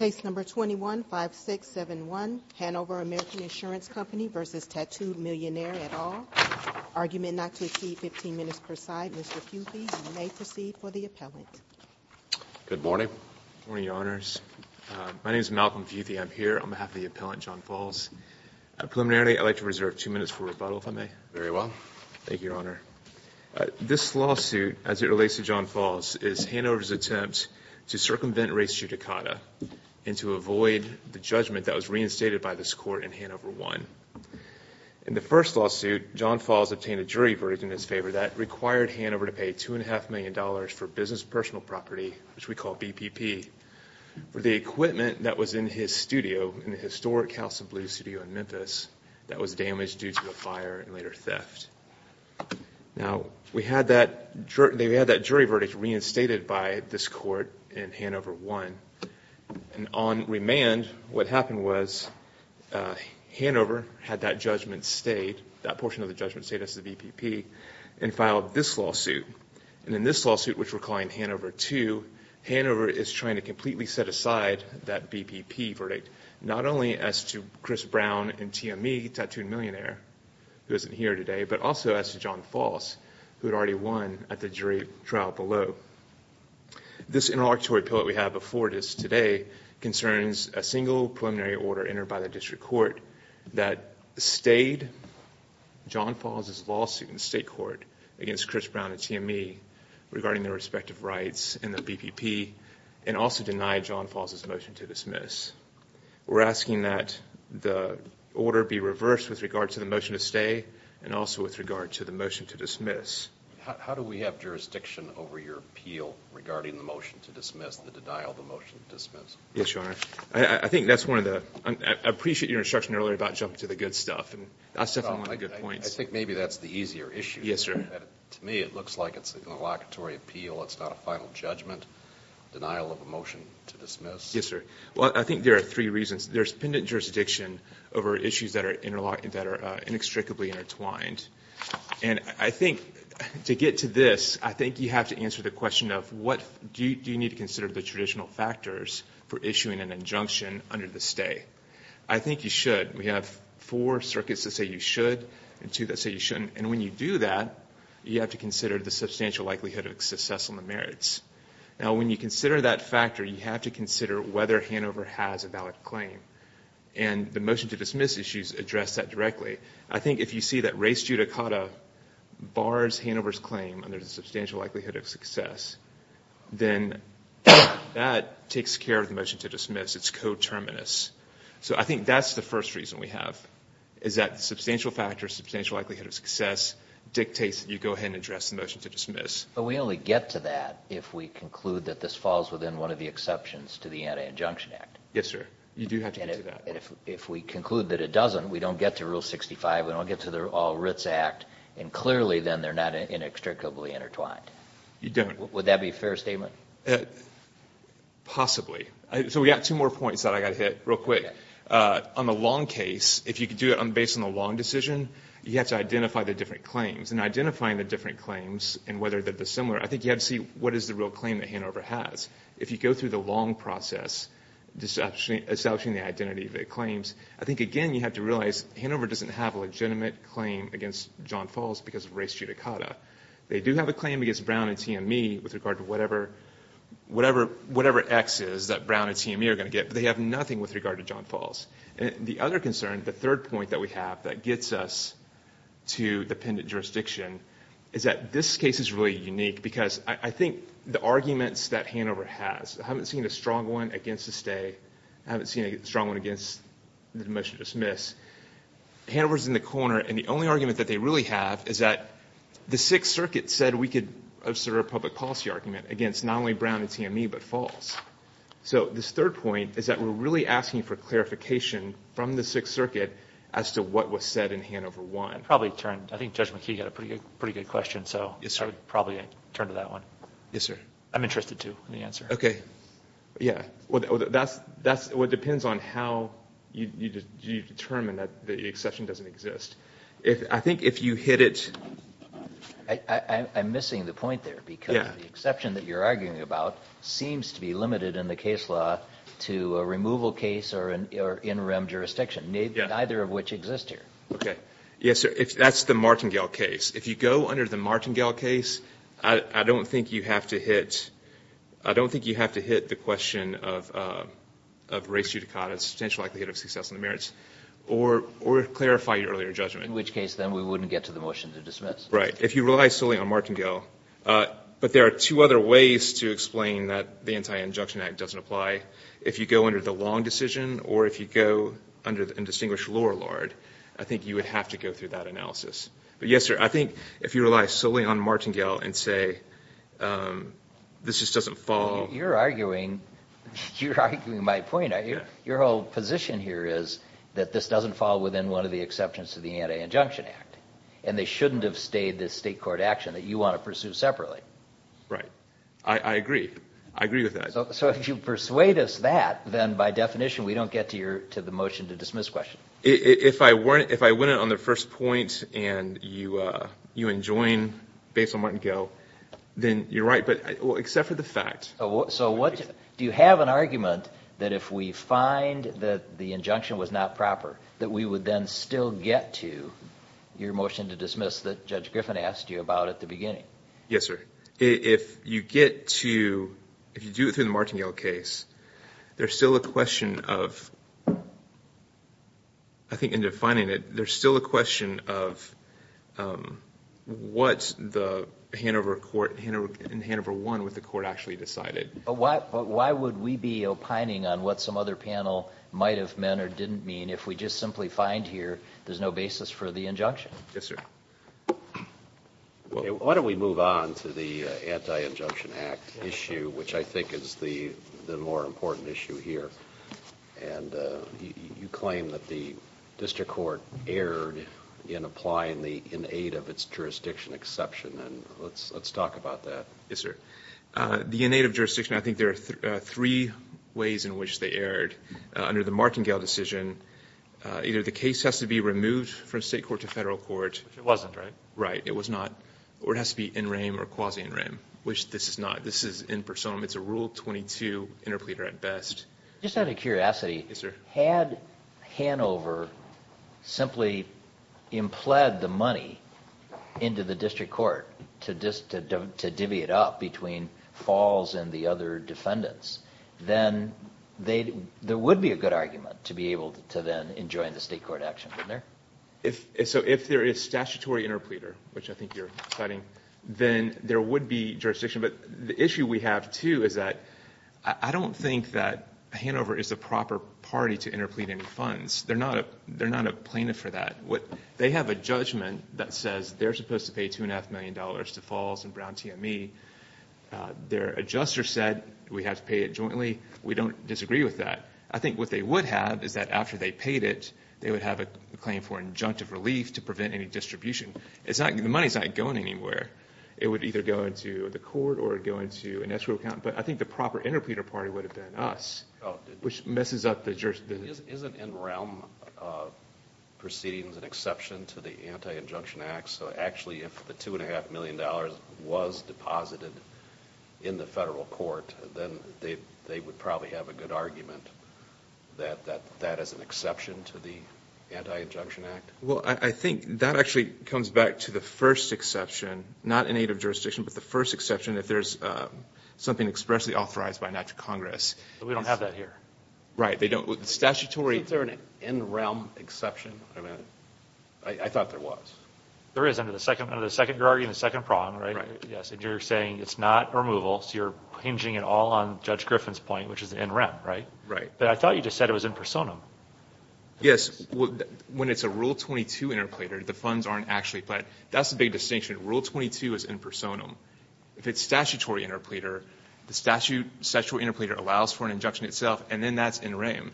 at all. Argument not to exceed 15 minutes per side. Mr. Futhi, you may proceed for the appellant. Good morning. Good morning, Your Honors. My name is Malcolm Futhi. I'm here on behalf of the appellant, John Falls. Preliminarily, I'd like to reserve two minutes for rebuttal if I may. Very well. Thank you, Your Honor. This lawsuit, as it relates to John Falls, is Hanover's attempt to circumvent res judicata and to avoid the judgment that was reinstated by this court in Hanover 1. In the first lawsuit, John Falls obtained a jury verdict in his favor that required Hanover to pay $2.5 million for business personal property, which we call BPP, for the equipment that was in his studio, in the historic House of Blues studio in Memphis, was damaged due to a fire and later theft. Now, we had that jury verdict reinstated by this court in Hanover 1. And on remand, what happened was Hanover had that judgment stayed, that portion of the judgment stayed as the BPP, and filed this lawsuit. And in this lawsuit, which we're calling Hanover 2, Hanover is trying to completely set aside that BPP verdict, not only as to Chris Brown and TME, Tattooed Millionaire, who isn't here today, but also as to John Falls, who had already won at the jury trial below. This interlocutory pill that we have before us today concerns a single preliminary order entered by the district court that stayed John Falls' lawsuit in the state court against Chris Brown and TME regarding their respective rights in the BPP, and also denied John Falls' motion to dismiss. We're asking that the order be reversed with regard to the motion to stay, and also with regard to the motion to dismiss. How do we have jurisdiction over your appeal regarding the motion to dismiss, the denial of the motion to dismiss? Yes, Your Honor. I think that's one of the... I appreciate your instruction earlier about jumping to the good stuff, and that's definitely one of the good points. I think maybe that's the easier issue. Yes, sir. To me, it looks like it's an interlocutory appeal. It's not a final judgment, denial of a motion to dismiss. Yes, sir. Well, I think there are three reasons. There's pendent jurisdiction over issues that are inextricably intertwined, and I think to get to this, I think you have to answer the question of what do you need to consider the traditional factors for issuing an injunction under the stay. I think you should. We have four circuits that say you should, and two that say you shouldn't, and when you do that, you have to consider the substantial likelihood of success on the merits. Now, when you consider that factor, you have to consider whether Hanover has a valid claim, and the motion to dismiss issues address that directly. I think if you see that race judicata bars Hanover's claim under the substantial likelihood of success, then that takes care of the motion to dismiss. It's coterminous, so I think that's the first reason we have, is that substantial factors, substantial likelihood of success dictates that you go ahead and address the motion to dismiss. But we only get to that if we conclude that this falls within one of the exceptions to the Anti-Injunction Act. Yes, sir. You do have to get to that. And if we conclude that it doesn't, we don't get to Rule 65, we don't get to the All Writs Act, and clearly then they're not inextricably intertwined. You don't. Would that be a fair statement? Possibly. So we got two more points that I got hit real quick. On the long decision, you have to identify the different claims, and identifying the different claims and whether they're dissimilar, I think you have to see what is the real claim that Hanover has. If you go through the long process, establishing the identity of the claims, I think, again, you have to realize Hanover doesn't have a legitimate claim against John Falls because of race judicata. They do have a claim against Brown and T&E with regard to whatever Xs that Brown and T&E are going to get, but they have nothing with regard to John Falls. The other concern, the third point that we have that gets us to dependent jurisdiction, is that this case is really unique because I think the arguments that Hanover has, I haven't seen a strong one against the stay. I haven't seen a strong one against the motion to dismiss. Hanover's in the corner, and the only argument that they really have is that the Sixth Circuit said we could assert a public policy argument against not only Brown and T&E, but Falls. So this third point is that we're really asking for clarification from the Sixth Circuit as to what was said in Hanover 1. I think Judge McKee had a pretty good question, so I would probably turn to that one. Yes, sir. I'm interested, too, in the answer. Okay. Yeah. That's what depends on how you determine that the exception doesn't exist. I think if you hit it... I'm missing the point there because the exception that you're arguing about seems to be limited in the case law to a removal case or an in-rem jurisdiction, neither of which exist here. Okay. Yes, sir. That's the Martingale case. If you go under the Martingale case, I don't think you have to hit the question of race judicata, the potential likelihood of success in the merits, or clarify your earlier judgment. In which case, then, we wouldn't get to the motion to dismiss. Right. If you rely solely on Martingale, but there are two other ways to explain that the Anti-Injunction Act doesn't apply. If you go under the Long decision or if you go under the Indistinguished Lower Lord, I think you would have to go through that analysis. But yes, sir, I think if you rely solely on Martingale and say this just doesn't fall... You're arguing my point. Your whole position here is that this doesn't fall within one of the exceptions to the Anti-Injunction Act, and they shouldn't have stayed this state court action that you want to pursue separately. Right. I agree. I agree with that. So if you persuade us that, then by definition we don't get to the motion to dismiss question. If I win it on the first point and you enjoin based on Martingale, then you're right. But except for the fact... Do you have an argument that if we find that the injunction was not proper, that we would then still get to your motion to dismiss that Judge Griffin asked you about at the beginning? Yes, sir. If you get to... If you do it through the Martingale case, there's still a question of... But why would we be opining on what some other panel might have meant or didn't mean if we just simply find here there's no basis for the injunction? Yes, sir. Why don't we move on to the Anti-Injunction Act issue, which I think is the more important issue here. And you claim that the district court erred in applying the in aid of its jurisdiction exception. And let's talk about that. Yes, sir. The in aid of jurisdiction, I think there are three ways in which they erred. Under the Martingale decision, either the case has to be removed from state court to federal court... Which it wasn't, right? Right. It was not. Or it has to be in rame or quasi-in rame, which this is not. This is in personam. It's a Rule 22 interpleader at best. Just out of curiosity... Yes, sir. Had Hanover simply impled the money into the district court to divvy it up between Falls and the other defendants, then there would be a good argument to be able to then enjoin the state court action from there. So if there is statutory interpleader, which I think you're citing, then there would be jurisdiction. But the issue we have, too, is that I don't think that Hanover is the proper party to interplead any funds. They're not a plaintiff for that. They have a judgment that says they're supposed to pay $2.5 million to Falls and Brown TME. Their adjuster said we have to pay it jointly. We don't disagree with that. I think what they would have is that after they paid it, they would have a claim for injunctive relief to prevent any distribution. The money's not going anywhere. It would either go into the court or it would go into an escrow account. But I think the proper interpleader party would have been us, which messes up the jurisdiction. Isn't NRELM proceedings an exception to the Anti-Injunction Act? So actually, if the $2.5 million was deposited in the federal court, then they would probably have a good argument that that is an exception to the Anti-Injunction Act? Well, I think that actually comes back to the first exception, not in aid of jurisdiction, but the first exception if there's something expressly authorized by a natural Congress. We don't have that here. Right. Statutory. Isn't there an NRELM exception? I thought there was. There is under the second guarantee and the second prong, right? Right. Yes, and you're saying it's not a removal, so you're hinging it all on Judge Griffin's point, which is NRELM, right? Right. But I thought you just said it was in personam. Yes. When it's a Rule 22 interplater, the funds aren't actually pledged. That's the big distinction. Rule 22 is in personam. If it's statutory interplater, the statutory interplater allows for an injunction itself, and then that's NRELM.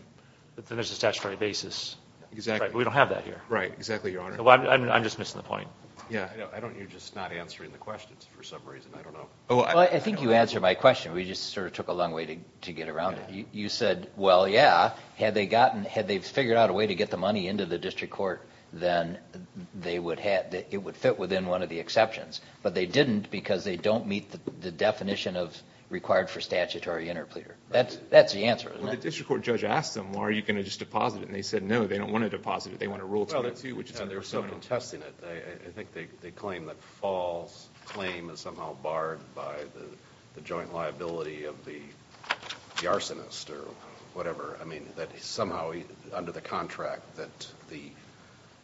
But then there's a statutory basis. Exactly. We don't have that here. Right. Exactly, Your Honor. I'm just missing the point. Yeah. You're just not answering the questions for some reason. I don't know. Well, I think you answered my question. We just sort of took a long way to get around it. You said, well, yeah, had they figured out a way to get the money into the district court, then it would fit within one of the exceptions. But they didn't because they don't meet the definition of required for statutory interplater. That's the answer, isn't it? Well, the district court judge asked them, well, are you going to just deposit it? And they said, no, they don't want to deposit it. They want a Rule 22, which is in personam. I think they claim that false claim is somehow barred by the joint liability of the arsonist or whatever. I mean, that somehow under the contract that the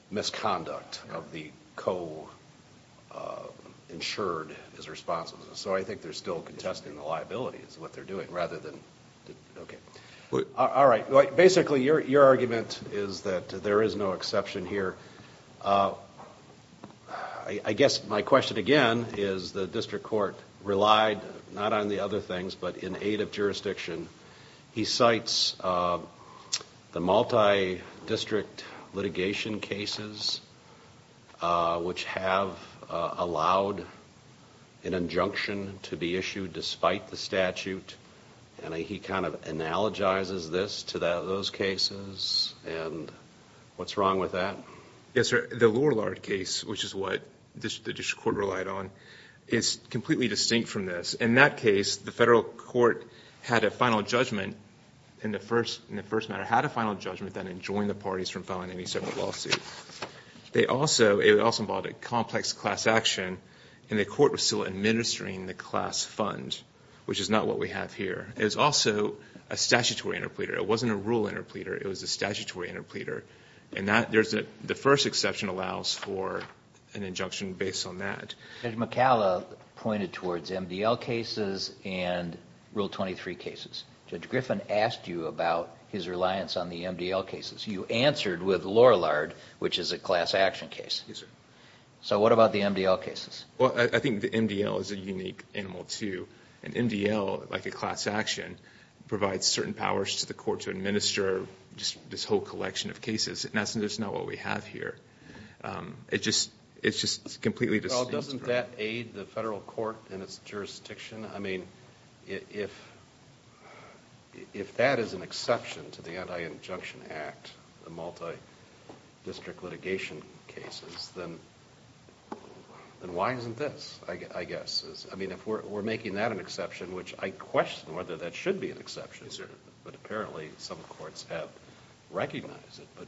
misconduct of the co-insured is responsible. So I think they're still contesting the liability is what they're doing rather than – okay. All right. Basically, your argument is that there is no exception here. I guess my question again is the district court relied not on the other things but in aid of jurisdiction. He cites the multi-district litigation cases, which have allowed an injunction to be issued despite the statute. And he kind of analogizes this to those cases. And what's wrong with that? Yes, sir. The Lorillard case, which is what the district court relied on, is completely distinct from this. In that case, the federal court had a final judgment in the first matter, had a final judgment that enjoined the parties from filing any separate lawsuit. It also involved a complex class action, and the court was still administering the class fund, which is not what we have here. It's also a statutory interpleader. It wasn't a rule interpleader. It was a statutory interpleader. And the first exception allows for an injunction based on that. Judge McCalla pointed towards MDL cases and Rule 23 cases. Judge Griffin asked you about his reliance on the MDL cases. You answered with Lorillard, which is a class action case. Yes, sir. So what about the MDL cases? Well, I think the MDL is a unique animal, too. An MDL, like a class action, provides certain powers to the court to administer this whole collection of cases, and that's just not what we have here. It's just completely distinct. Well, doesn't that aid the federal court in its jurisdiction? I mean, if that is an exception to the Anti-Injunction Act, the multidistrict litigation cases, then why isn't this, I guess? I mean, if we're making that an exception, which I question whether that should be an exception. Yes, sir. But apparently some courts have recognized it.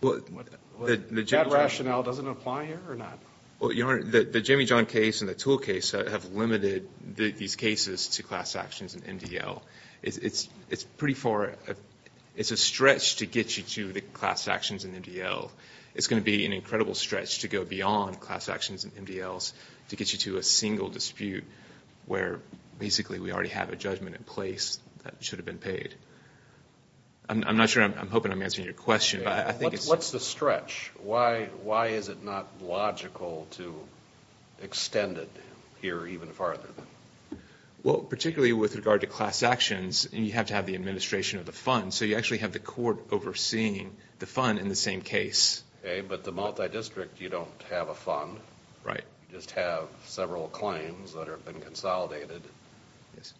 That rationale doesn't apply here or not? Well, Your Honor, the Jamie John case and the tool case have limited these cases to class actions and MDL. It's pretty far – it's a stretch to get you to the class actions and MDL. It's going to be an incredible stretch to go beyond class actions and MDLs to get you to a single dispute where basically we already have a judgment in place that should have been paid. I'm not sure – I'm hoping I'm answering your question, but I think it's – What's the stretch? Why is it not logical to extend it here even farther? Well, particularly with regard to class actions, you have to have the administration of the funds, so you actually have the court overseeing the fund in the same case. Okay, but the multidistrict, you don't have a fund. Right. You just have several claims that have been consolidated. Yes.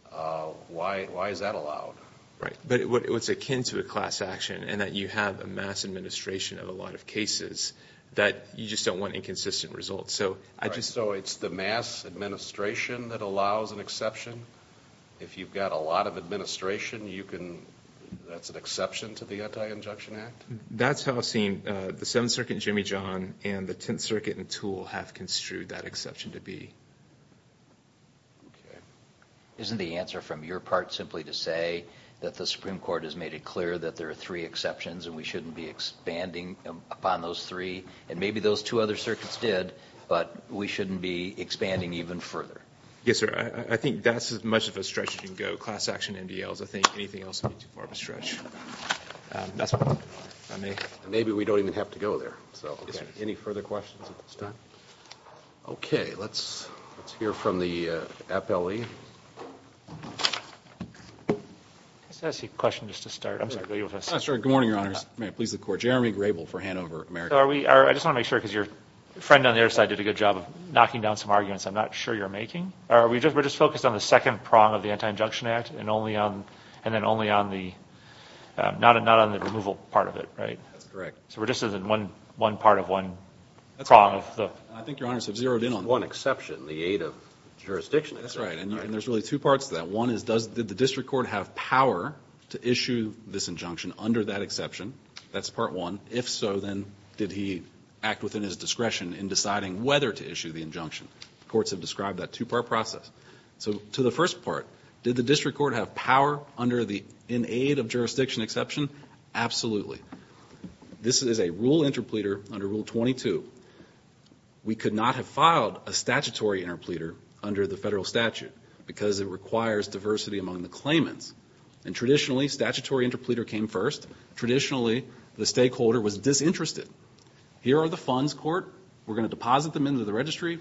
Why is that allowed? Right, but it's akin to a class action in that you have a mass administration of a lot of cases that you just don't want inconsistent results. So I just – So it's the mass administration that allows an exception? If you've got a lot of administration, you can – that's an exception to the Anti-Injection Act? That's how I've seen the Seventh Circuit, Jamie John, and the Tenth Circuit and tool have construed that exception to be. Okay. Isn't the answer from your part simply to say that the Supreme Court has made it clear that there are three exceptions and we shouldn't be expanding upon those three? And maybe those two other circuits did, but we shouldn't be expanding even further? Yes, sir. I think that's as much of a stretch as you can go, class action, MDLs. I think anything else would be too far of a stretch. Maybe we don't even have to go there. Any further questions at this time? Okay. Let's hear from the appellee. Can I ask you a question just to start? I'm sorry. Good morning, Your Honors. May it please the Court. Jeremy Grable for Hanover American. I just want to make sure because your friend on the other side did a good job of knocking down some arguments I'm not sure you're making. We're just focused on the second prong of the Anti-Injunction Act and then only on the – not on the removal part of it, right? That's correct. So we're just in one part of one prong? That's right. I think Your Honors have zeroed in on that. One exception, the aid of jurisdiction exception. That's right. And there's really two parts to that. One is did the district court have power to issue this injunction under that exception? That's part one. If so, then did he act within his discretion in deciding whether to issue the injunction? Courts have described that two-part process. So to the first part, did the district court have power in aid of jurisdiction exception? Absolutely. This is a rule interpleader under Rule 22. We could not have filed a statutory interpleader under the Federal statute because it requires diversity among the claimants. And traditionally, statutory interpleader came first. Traditionally, the stakeholder was disinterested. Here are the funds, court. We're going to deposit them into the registry.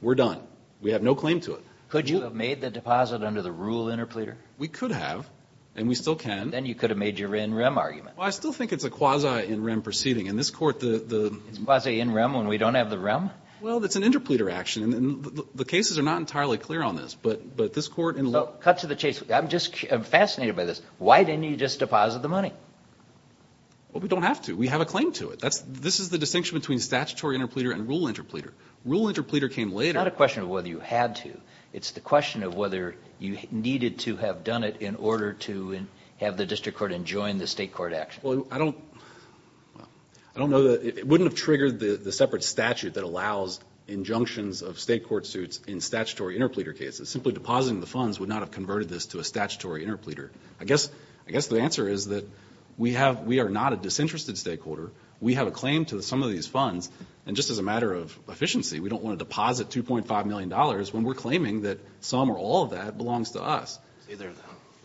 We're done. We have no claim to it. Could you have made the deposit under the rule interpleader? We could have, and we still can. Then you could have made your in rem argument. Well, I still think it's a quasi in rem proceeding. In this Court the the It's quasi in rem when we don't have the rem? Well, it's an interpleader action. And the cases are not entirely clear on this. But this Court Cut to the chase. I'm just fascinated by this. Why didn't you just deposit the money? Well, we don't have to. We have a claim to it. This is the distinction between statutory interpleader and rule interpleader. Rule interpleader came later. It's not a question of whether you had to. It's the question of whether you needed to have done it in order to have the district court enjoin the state court action. Well, I don't know. It wouldn't have triggered the separate statute that allows injunctions of state court suits in statutory interpleader cases. Simply depositing the funds would not have converted this to a statutory interpleader. I guess the answer is that we are not a disinterested stakeholder. We have a claim to some of these funds. And just as a matter of efficiency, we don't want to deposit $2.5 million when we're claiming that some or all of that belongs to us.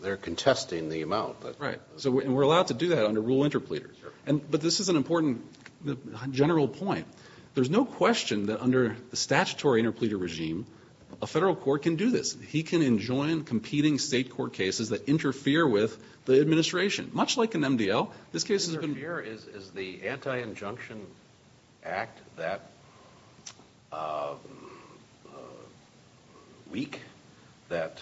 They're contesting the amount. Right. And we're allowed to do that under rule interpleader. But this is an important general point. There's no question that under the statutory interpleader regime, a federal court can do this. He can enjoin competing state court cases that interfere with the administration. Much like an MDL, this case has been... Is the Anti-Injunction Act that weak? That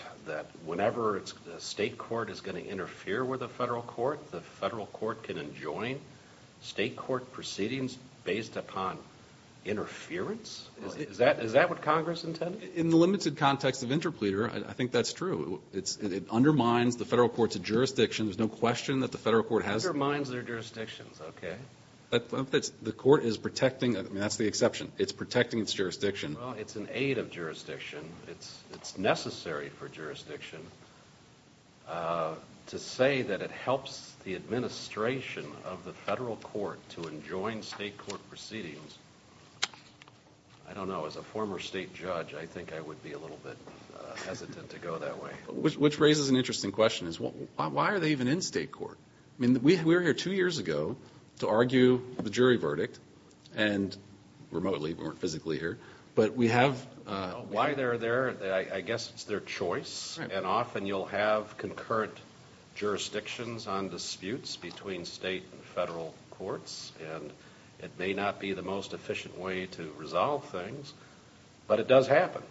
whenever a state court is going to interfere with a federal court, the federal court can enjoin state court proceedings based upon interference? Is that what Congress intended? In the limited context of interpleader, I think that's true. It undermines the federal court's jurisdiction. There's no question that the federal court has... Okay. The court is protecting... That's the exception. It's protecting its jurisdiction. Well, it's an aid of jurisdiction. It's necessary for jurisdiction to say that it helps the administration of the federal court to enjoin state court proceedings. I don't know. As a former state judge, I think I would be a little bit hesitant to go that way. Which raises an interesting question. Why are they even in state court? I mean, we were here two years ago to argue the jury verdict. And remotely, we weren't physically here. But we have... Why they're there, I guess it's their choice. And often you'll have concurrent jurisdictions on disputes between state and federal courts. And it may not be the most efficient way to resolve things. But it does happen.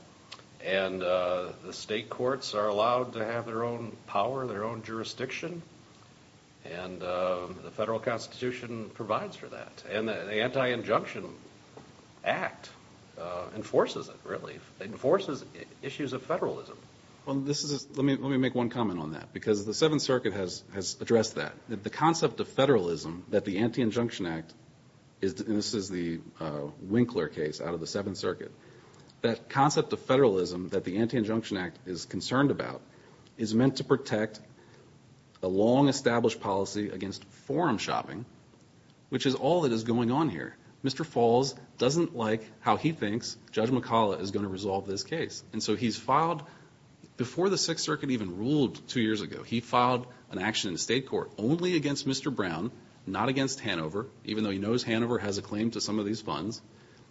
And the state courts are allowed to have their own power, their own jurisdiction. And the federal constitution provides for that. And the Anti-Injunction Act enforces it, really. Enforces issues of federalism. Well, this is... Let me make one comment on that. Because the Seventh Circuit has addressed that. The concept of federalism that the Anti-Injunction Act... And this is the Winkler case out of the Seventh Circuit. That concept of federalism that the Anti-Injunction Act is concerned about is meant to protect a long-established policy against forum shopping, which is all that is going on here. Mr. Falls doesn't like how he thinks Judge McCullough is going to resolve this case. And so he's filed... Before the Sixth Circuit even ruled two years ago, he filed an action in state court only against Mr. Brown, not against Hanover, even though he knows Hanover has a claim to some of these funds.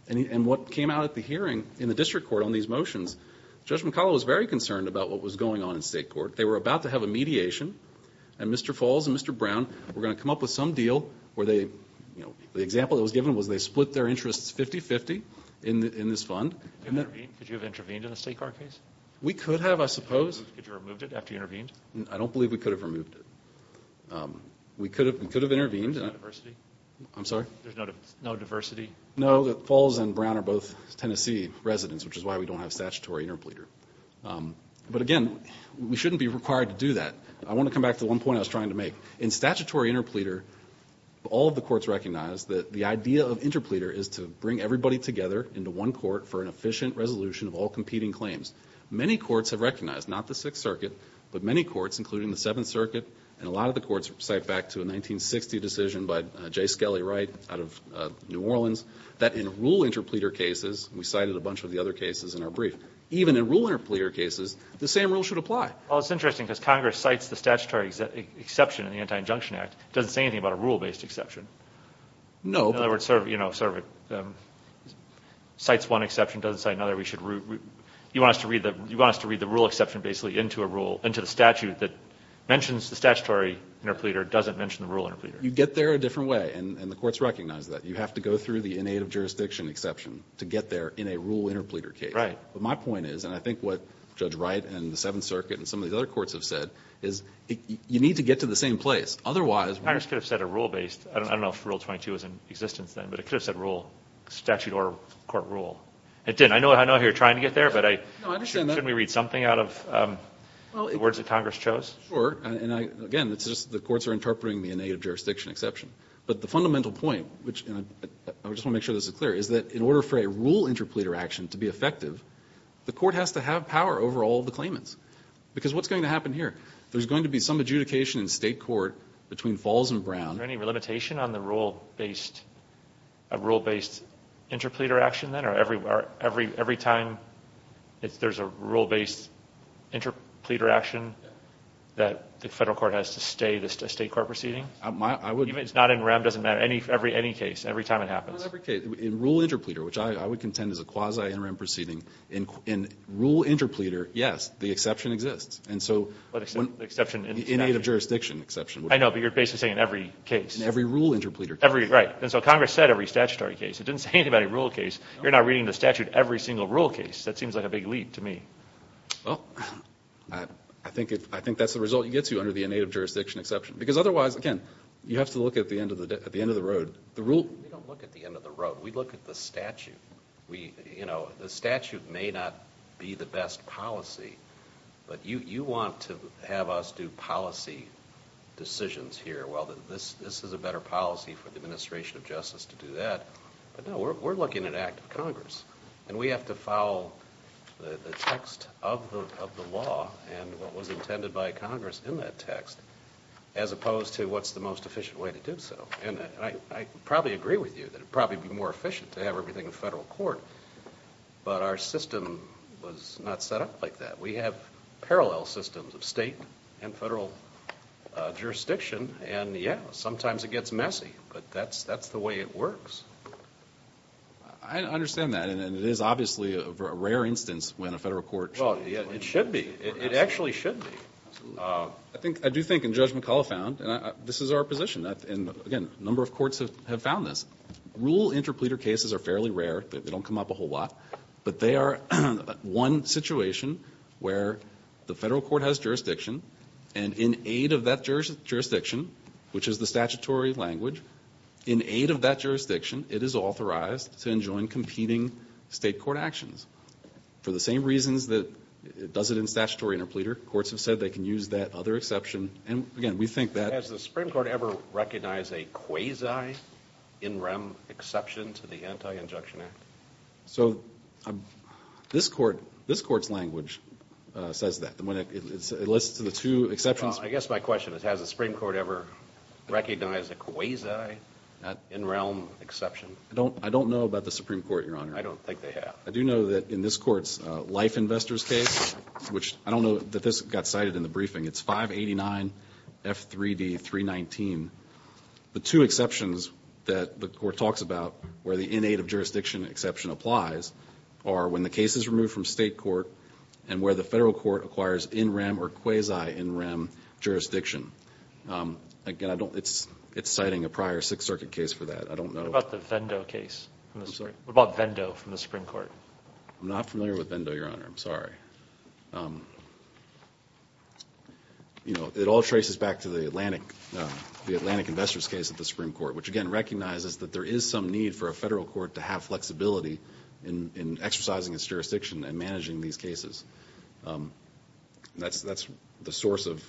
And what came out at the hearing in the district court on these motions, Judge McCullough was very concerned about what was going on in state court. They were about to have a mediation, and Mr. Falls and Mr. Brown were going to come up with some deal where they... The example that was given was they split their interests 50-50 in this fund. Could you have intervened in a state court case? We could have, I suppose. Could you have removed it after you intervened? I don't believe we could have removed it. We could have intervened. There's no diversity? I'm sorry? There's no diversity? No. Falls and Brown are both Tennessee residents, which is why we don't have statutory interpleader. But again, we shouldn't be required to do that. I want to come back to one point I was trying to make. In statutory interpleader, all of the courts recognize that the idea of interpleader is to bring everybody together into one court for an efficient resolution of all competing claims. Many courts have recognized, not the Sixth Circuit, but many courts, including the Seventh Circuit, and a lot of the courts cite back to a 1960 decision by J. Skelly Wright out of New Orleans, that in rule interpleader cases, we cited a bunch of the other cases in our brief, even in rule interpleader cases, the same rule should apply. Well, it's interesting because Congress cites the statutory exception in the Anti-Injunction Act. It doesn't say anything about a rule-based exception. No. In other words, it cites one exception, doesn't cite another. You want us to read the rule exception basically into a rule, into the statute that mentions the statutory interpleader, doesn't mention the rule interpleader. You get there a different way. And the courts recognize that. You have to go through the innate of jurisdiction exception to get there in a rule interpleader case. Right. But my point is, and I think what Judge Wright and the Seventh Circuit and some of these other courts have said, is you need to get to the same place. Otherwise, we're going to get to the same place. Congress could have said a rule-based. I don't know if Rule 22 was in existence then, but it could have said rule, statute or court rule. It didn't. I know you're trying to get there, but shouldn't we read something out of the words that Congress chose? Sure. And again, it's just the courts are interpreting the innate of jurisdiction exception. But the fundamental point, which I just want to make sure this is clear, is that in order for a rule interpleader action to be effective, the court has to have power over all of the claimants. Because what's going to happen here? There's going to be some adjudication in state court between Falls and Brown. Is there any limitation on the rule-based interpleader action then? Or every time there's a rule-based interpleader action, that the federal court has to stay the state court proceeding? Even if it's not NREM, it doesn't matter. Any case, every time it happens. In rule interpleader, which I would contend is a quasi-NREM proceeding, in rule interpleader, yes, the exception exists. The innate of jurisdiction exception. I know, but you're basically saying in every case. In every rule interpleader case. Right. And so Congress said every statutory case. It didn't say anything about a rule case. You're not reading the statute every single rule case. That seems like a big leap to me. Well, I think that's the result you get to under the innate of jurisdiction exception. Because otherwise, again, you have to look at the end of the road. We don't look at the end of the road. We look at the statute. You know, the statute may not be the best policy, but you want to have us do policy decisions here. Well, this is a better policy for the administration of justice to do that. But no, we're looking at an act of Congress. And we have to follow the text of the law and what was intended by Congress in that text, as opposed to what's the most efficient way to do so. And I probably agree with you that it would probably be more efficient to have everything in federal court. But our system was not set up like that. We have parallel systems of state and federal jurisdiction. And, yeah, sometimes it gets messy. But that's the way it works. I understand that. And it is obviously a rare instance when a federal court should. Well, it should be. It actually should be. I do think, and Judge McCullough found, this is our position. And, again, a number of courts have found this. Rule interpleader cases are fairly rare. They don't come up a whole lot. But they are one situation where the federal court has jurisdiction, and in aid of that jurisdiction, which is the statutory language, in aid of that jurisdiction, it is authorized to enjoin competing state court actions for the same reasons that it does it in statutory interpleader. Courts have said they can use that other exception. And, again, we think that. Has the Supreme Court ever recognized a quasi-in-realm exception to the Anti-Injunction Act? So this Court's language says that. It lists the two exceptions. I guess my question is, has the Supreme Court ever recognized a quasi-in-realm exception? I don't know about the Supreme Court, Your Honor. I don't think they have. I do know that in this Court's life investors case, which I don't know that this got cited in the briefing, it's 589F3D319, the two exceptions that the Court talks about where the in-aid of jurisdiction exception applies are when the case is removed from state court and where the federal court acquires in-rem or quasi-in-rem jurisdiction. Again, it's citing a prior Sixth Circuit case for that. I don't know. What about the Vendo case? I'm sorry. What about Vendo from the Supreme Court? I'm not familiar with Vendo, Your Honor. I'm sorry. It all traces back to the Atlantic investors case at the Supreme Court, which again recognizes that there is some need for a federal court to have flexibility in exercising its jurisdiction and managing these cases. That's the source of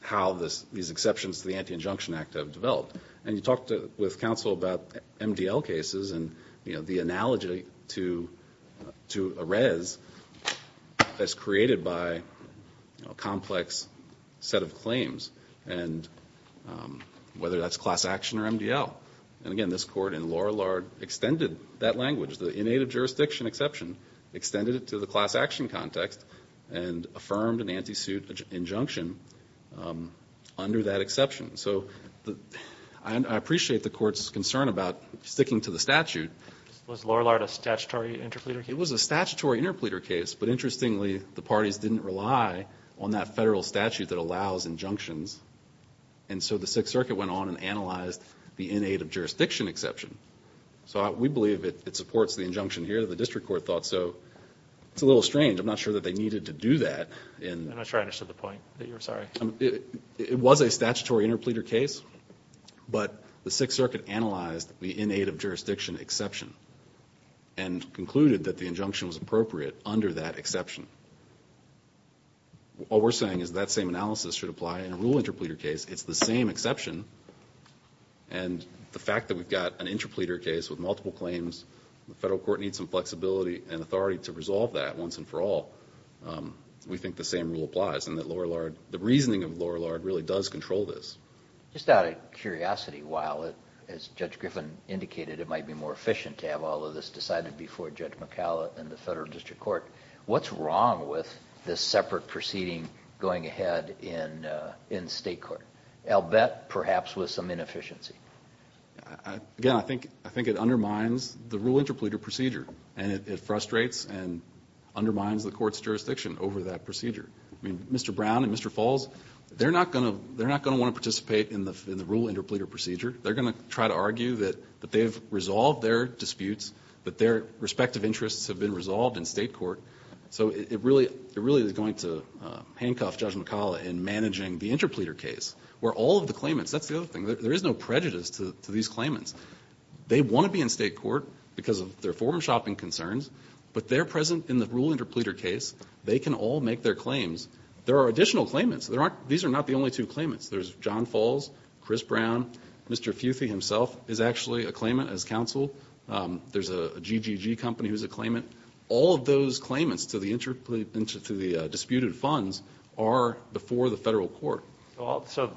how these exceptions to the Anti-Injunction Act have developed. And you talked with counsel about MDL cases and, you know, the analogy to a res that's created by a complex set of claims and whether that's class action or MDL. And again, this Court in Lorillard extended that language, the in-aid of jurisdiction exception, extended it to the class action context and affirmed an anti-suit injunction under that exception. So I appreciate the Court's concern about sticking to the statute. Was Lorillard a statutory interpleader case? It was a statutory interpleader case, but interestingly the parties didn't rely on that federal statute that allows injunctions. And so the Sixth Circuit went on and analyzed the in-aid of jurisdiction exception. So we believe it supports the injunction here that the district court thought. So it's a little strange. I'm not sure that they needed to do that. I'm not sure I understood the point. You're sorry. It was a statutory interpleader case, but the Sixth Circuit analyzed the in-aid of jurisdiction exception and concluded that the injunction was appropriate under that exception. All we're saying is that same analysis should apply in a rule interpleader case. It's the same exception, and the fact that we've got an interpleader case with multiple claims, the federal court needs some flexibility and authority to resolve that once and for all. We think the same rule applies and that the reasoning of Lorillard really does control this. Just out of curiosity, while, as Judge Griffin indicated, it might be more efficient to have all of this decided before Judge McCalla and the federal district court, what's wrong with this separate proceeding going ahead in state court? I'll bet perhaps with some inefficiency. Again, I think it undermines the rule interpleader procedure, and it frustrates and undermines the court's jurisdiction over that procedure. I mean, Mr. Brown and Mr. Falls, they're not going to want to participate in the rule interpleader procedure. They're going to try to argue that they've resolved their disputes, that their respective interests have been resolved in state court. So it really is going to handcuff Judge McCalla in managing the interpleader case, where all of the claimants, that's the other thing, there is no prejudice to these claimants. They want to be in state court because of their form-shopping concerns, but they're present in the rule interpleader case. They can all make their claims. There are additional claimants. These are not the only two claimants. There's John Falls, Chris Brown. Mr. Futhi himself is actually a claimant as counsel. There's a GGG company who's a claimant. All of those claimants to the disputed funds are before the federal court. So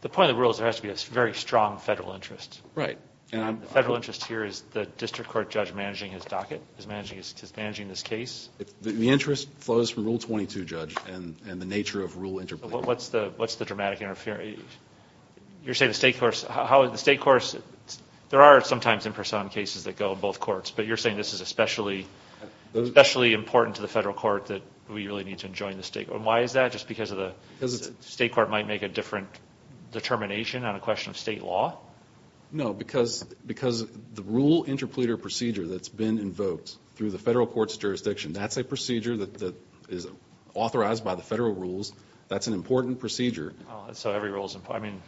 the point of the rule is there has to be a very strong federal interest. Right. The federal interest here is the district court judge managing his docket, is managing this case. The interest flows from Rule 22, Judge, and the nature of rule interpleader. What's the dramatic interference? You're saying the state courts, how the state courts, there are sometimes imperson cases that go in both courts, but you're saying this is especially important to the federal court that we really need to enjoin the state court. Why is that? Just because the state court might make a different determination on a question of state law? No, because the rule interpleader procedure that's been invoked through the state court, that's a procedure that is authorized by the federal rules. That's an important procedure. So every rule is important.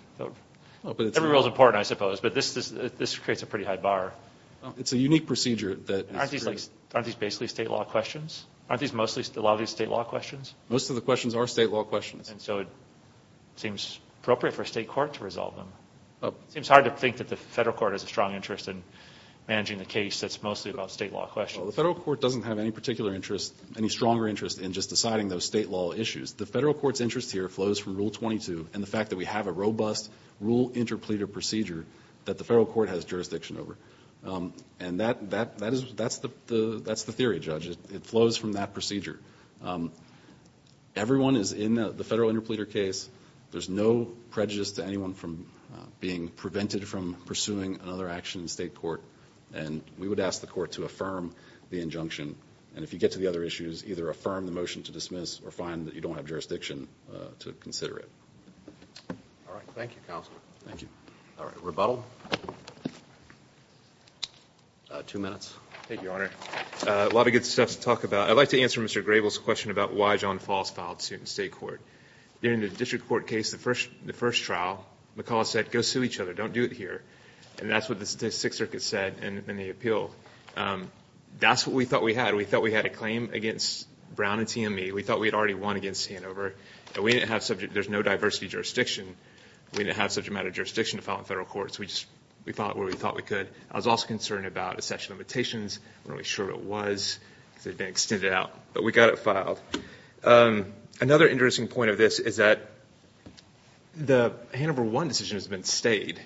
Every rule is important, I suppose, but this creates a pretty high bar. It's a unique procedure. Aren't these basically state law questions? Aren't these mostly state law questions? Most of the questions are state law questions. So it seems appropriate for a state court to resolve them. It seems hard to think that the federal court has a strong interest in managing the case that's mostly about state law questions. Well, the federal court doesn't have any particular interest, any stronger interest in just deciding those state law issues. The federal court's interest here flows from Rule 22 and the fact that we have a robust rule interpleader procedure that the federal court has jurisdiction over. And that's the theory, Judge. It flows from that procedure. Everyone is in the federal interpleader case. There's no prejudice to anyone from being prevented from pursuing another action in state court. And we would ask the court to affirm the injunction. And if you get to the other issues, either affirm the motion to dismiss or find that you don't have jurisdiction to consider it. All right. Thank you, Counselor. Thank you. All right. Rebuttal? Two minutes. Thank you, Your Honor. A lot of good stuff to talk about. I'd like to answer Mr. Grable's question about why John Falls filed suit in state court. In the district court case, the first trial, McCulloch said, go sue each other. Don't do it here. And that's what the Sixth Circuit said in the appeal. That's what we thought we had. We thought we had a claim against Brown and TME. We thought we had already won against Hanover. And we didn't have subject – there's no diversity jurisdiction. We didn't have subject matter jurisdiction to file in federal courts. We just – we filed it where we thought we could. I was also concerned about accession limitations. We weren't really sure what it was because it had been extended out. But we got it filed. Another interesting point of this is that the Hanover 1 decision has been stayed.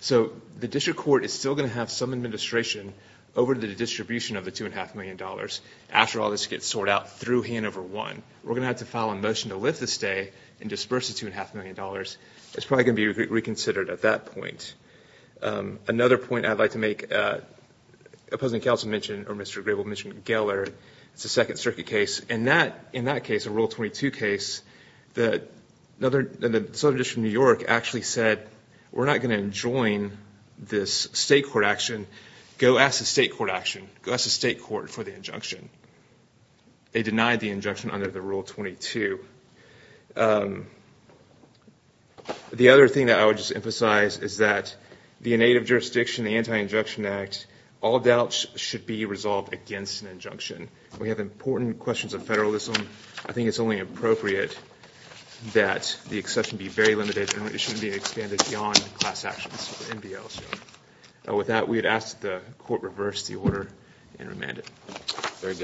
So the district court is still going to have some administration over the distribution of the $2.5 million. After all, this gets sorted out through Hanover 1. We're going to have to file a motion to lift the stay and disperse the $2.5 million. It's probably going to be reconsidered at that point. Another point I'd like to make, opposing counsel mentioned – or Mr. Grable mentioned Geller. It's a Second Circuit case. And that – in that case, a Rule 22 case, the Southern District of New York actually said, we're not going to enjoin this state court action. Go ask the state court action. Go ask the state court for the injunction. They denied the injunction under the Rule 22. The other thing that I would just emphasize is that the innate of jurisdiction, the Anti-Injunction Act, all doubts should be resolved against an injunction. We have important questions of federalism. I think it's only appropriate that the exception be very limited and it shouldn't be expanded beyond class actions. With that, we would ask that the court reverse the order and remand it. Thank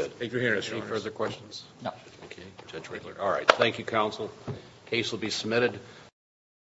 you, counsel. The case will be submitted.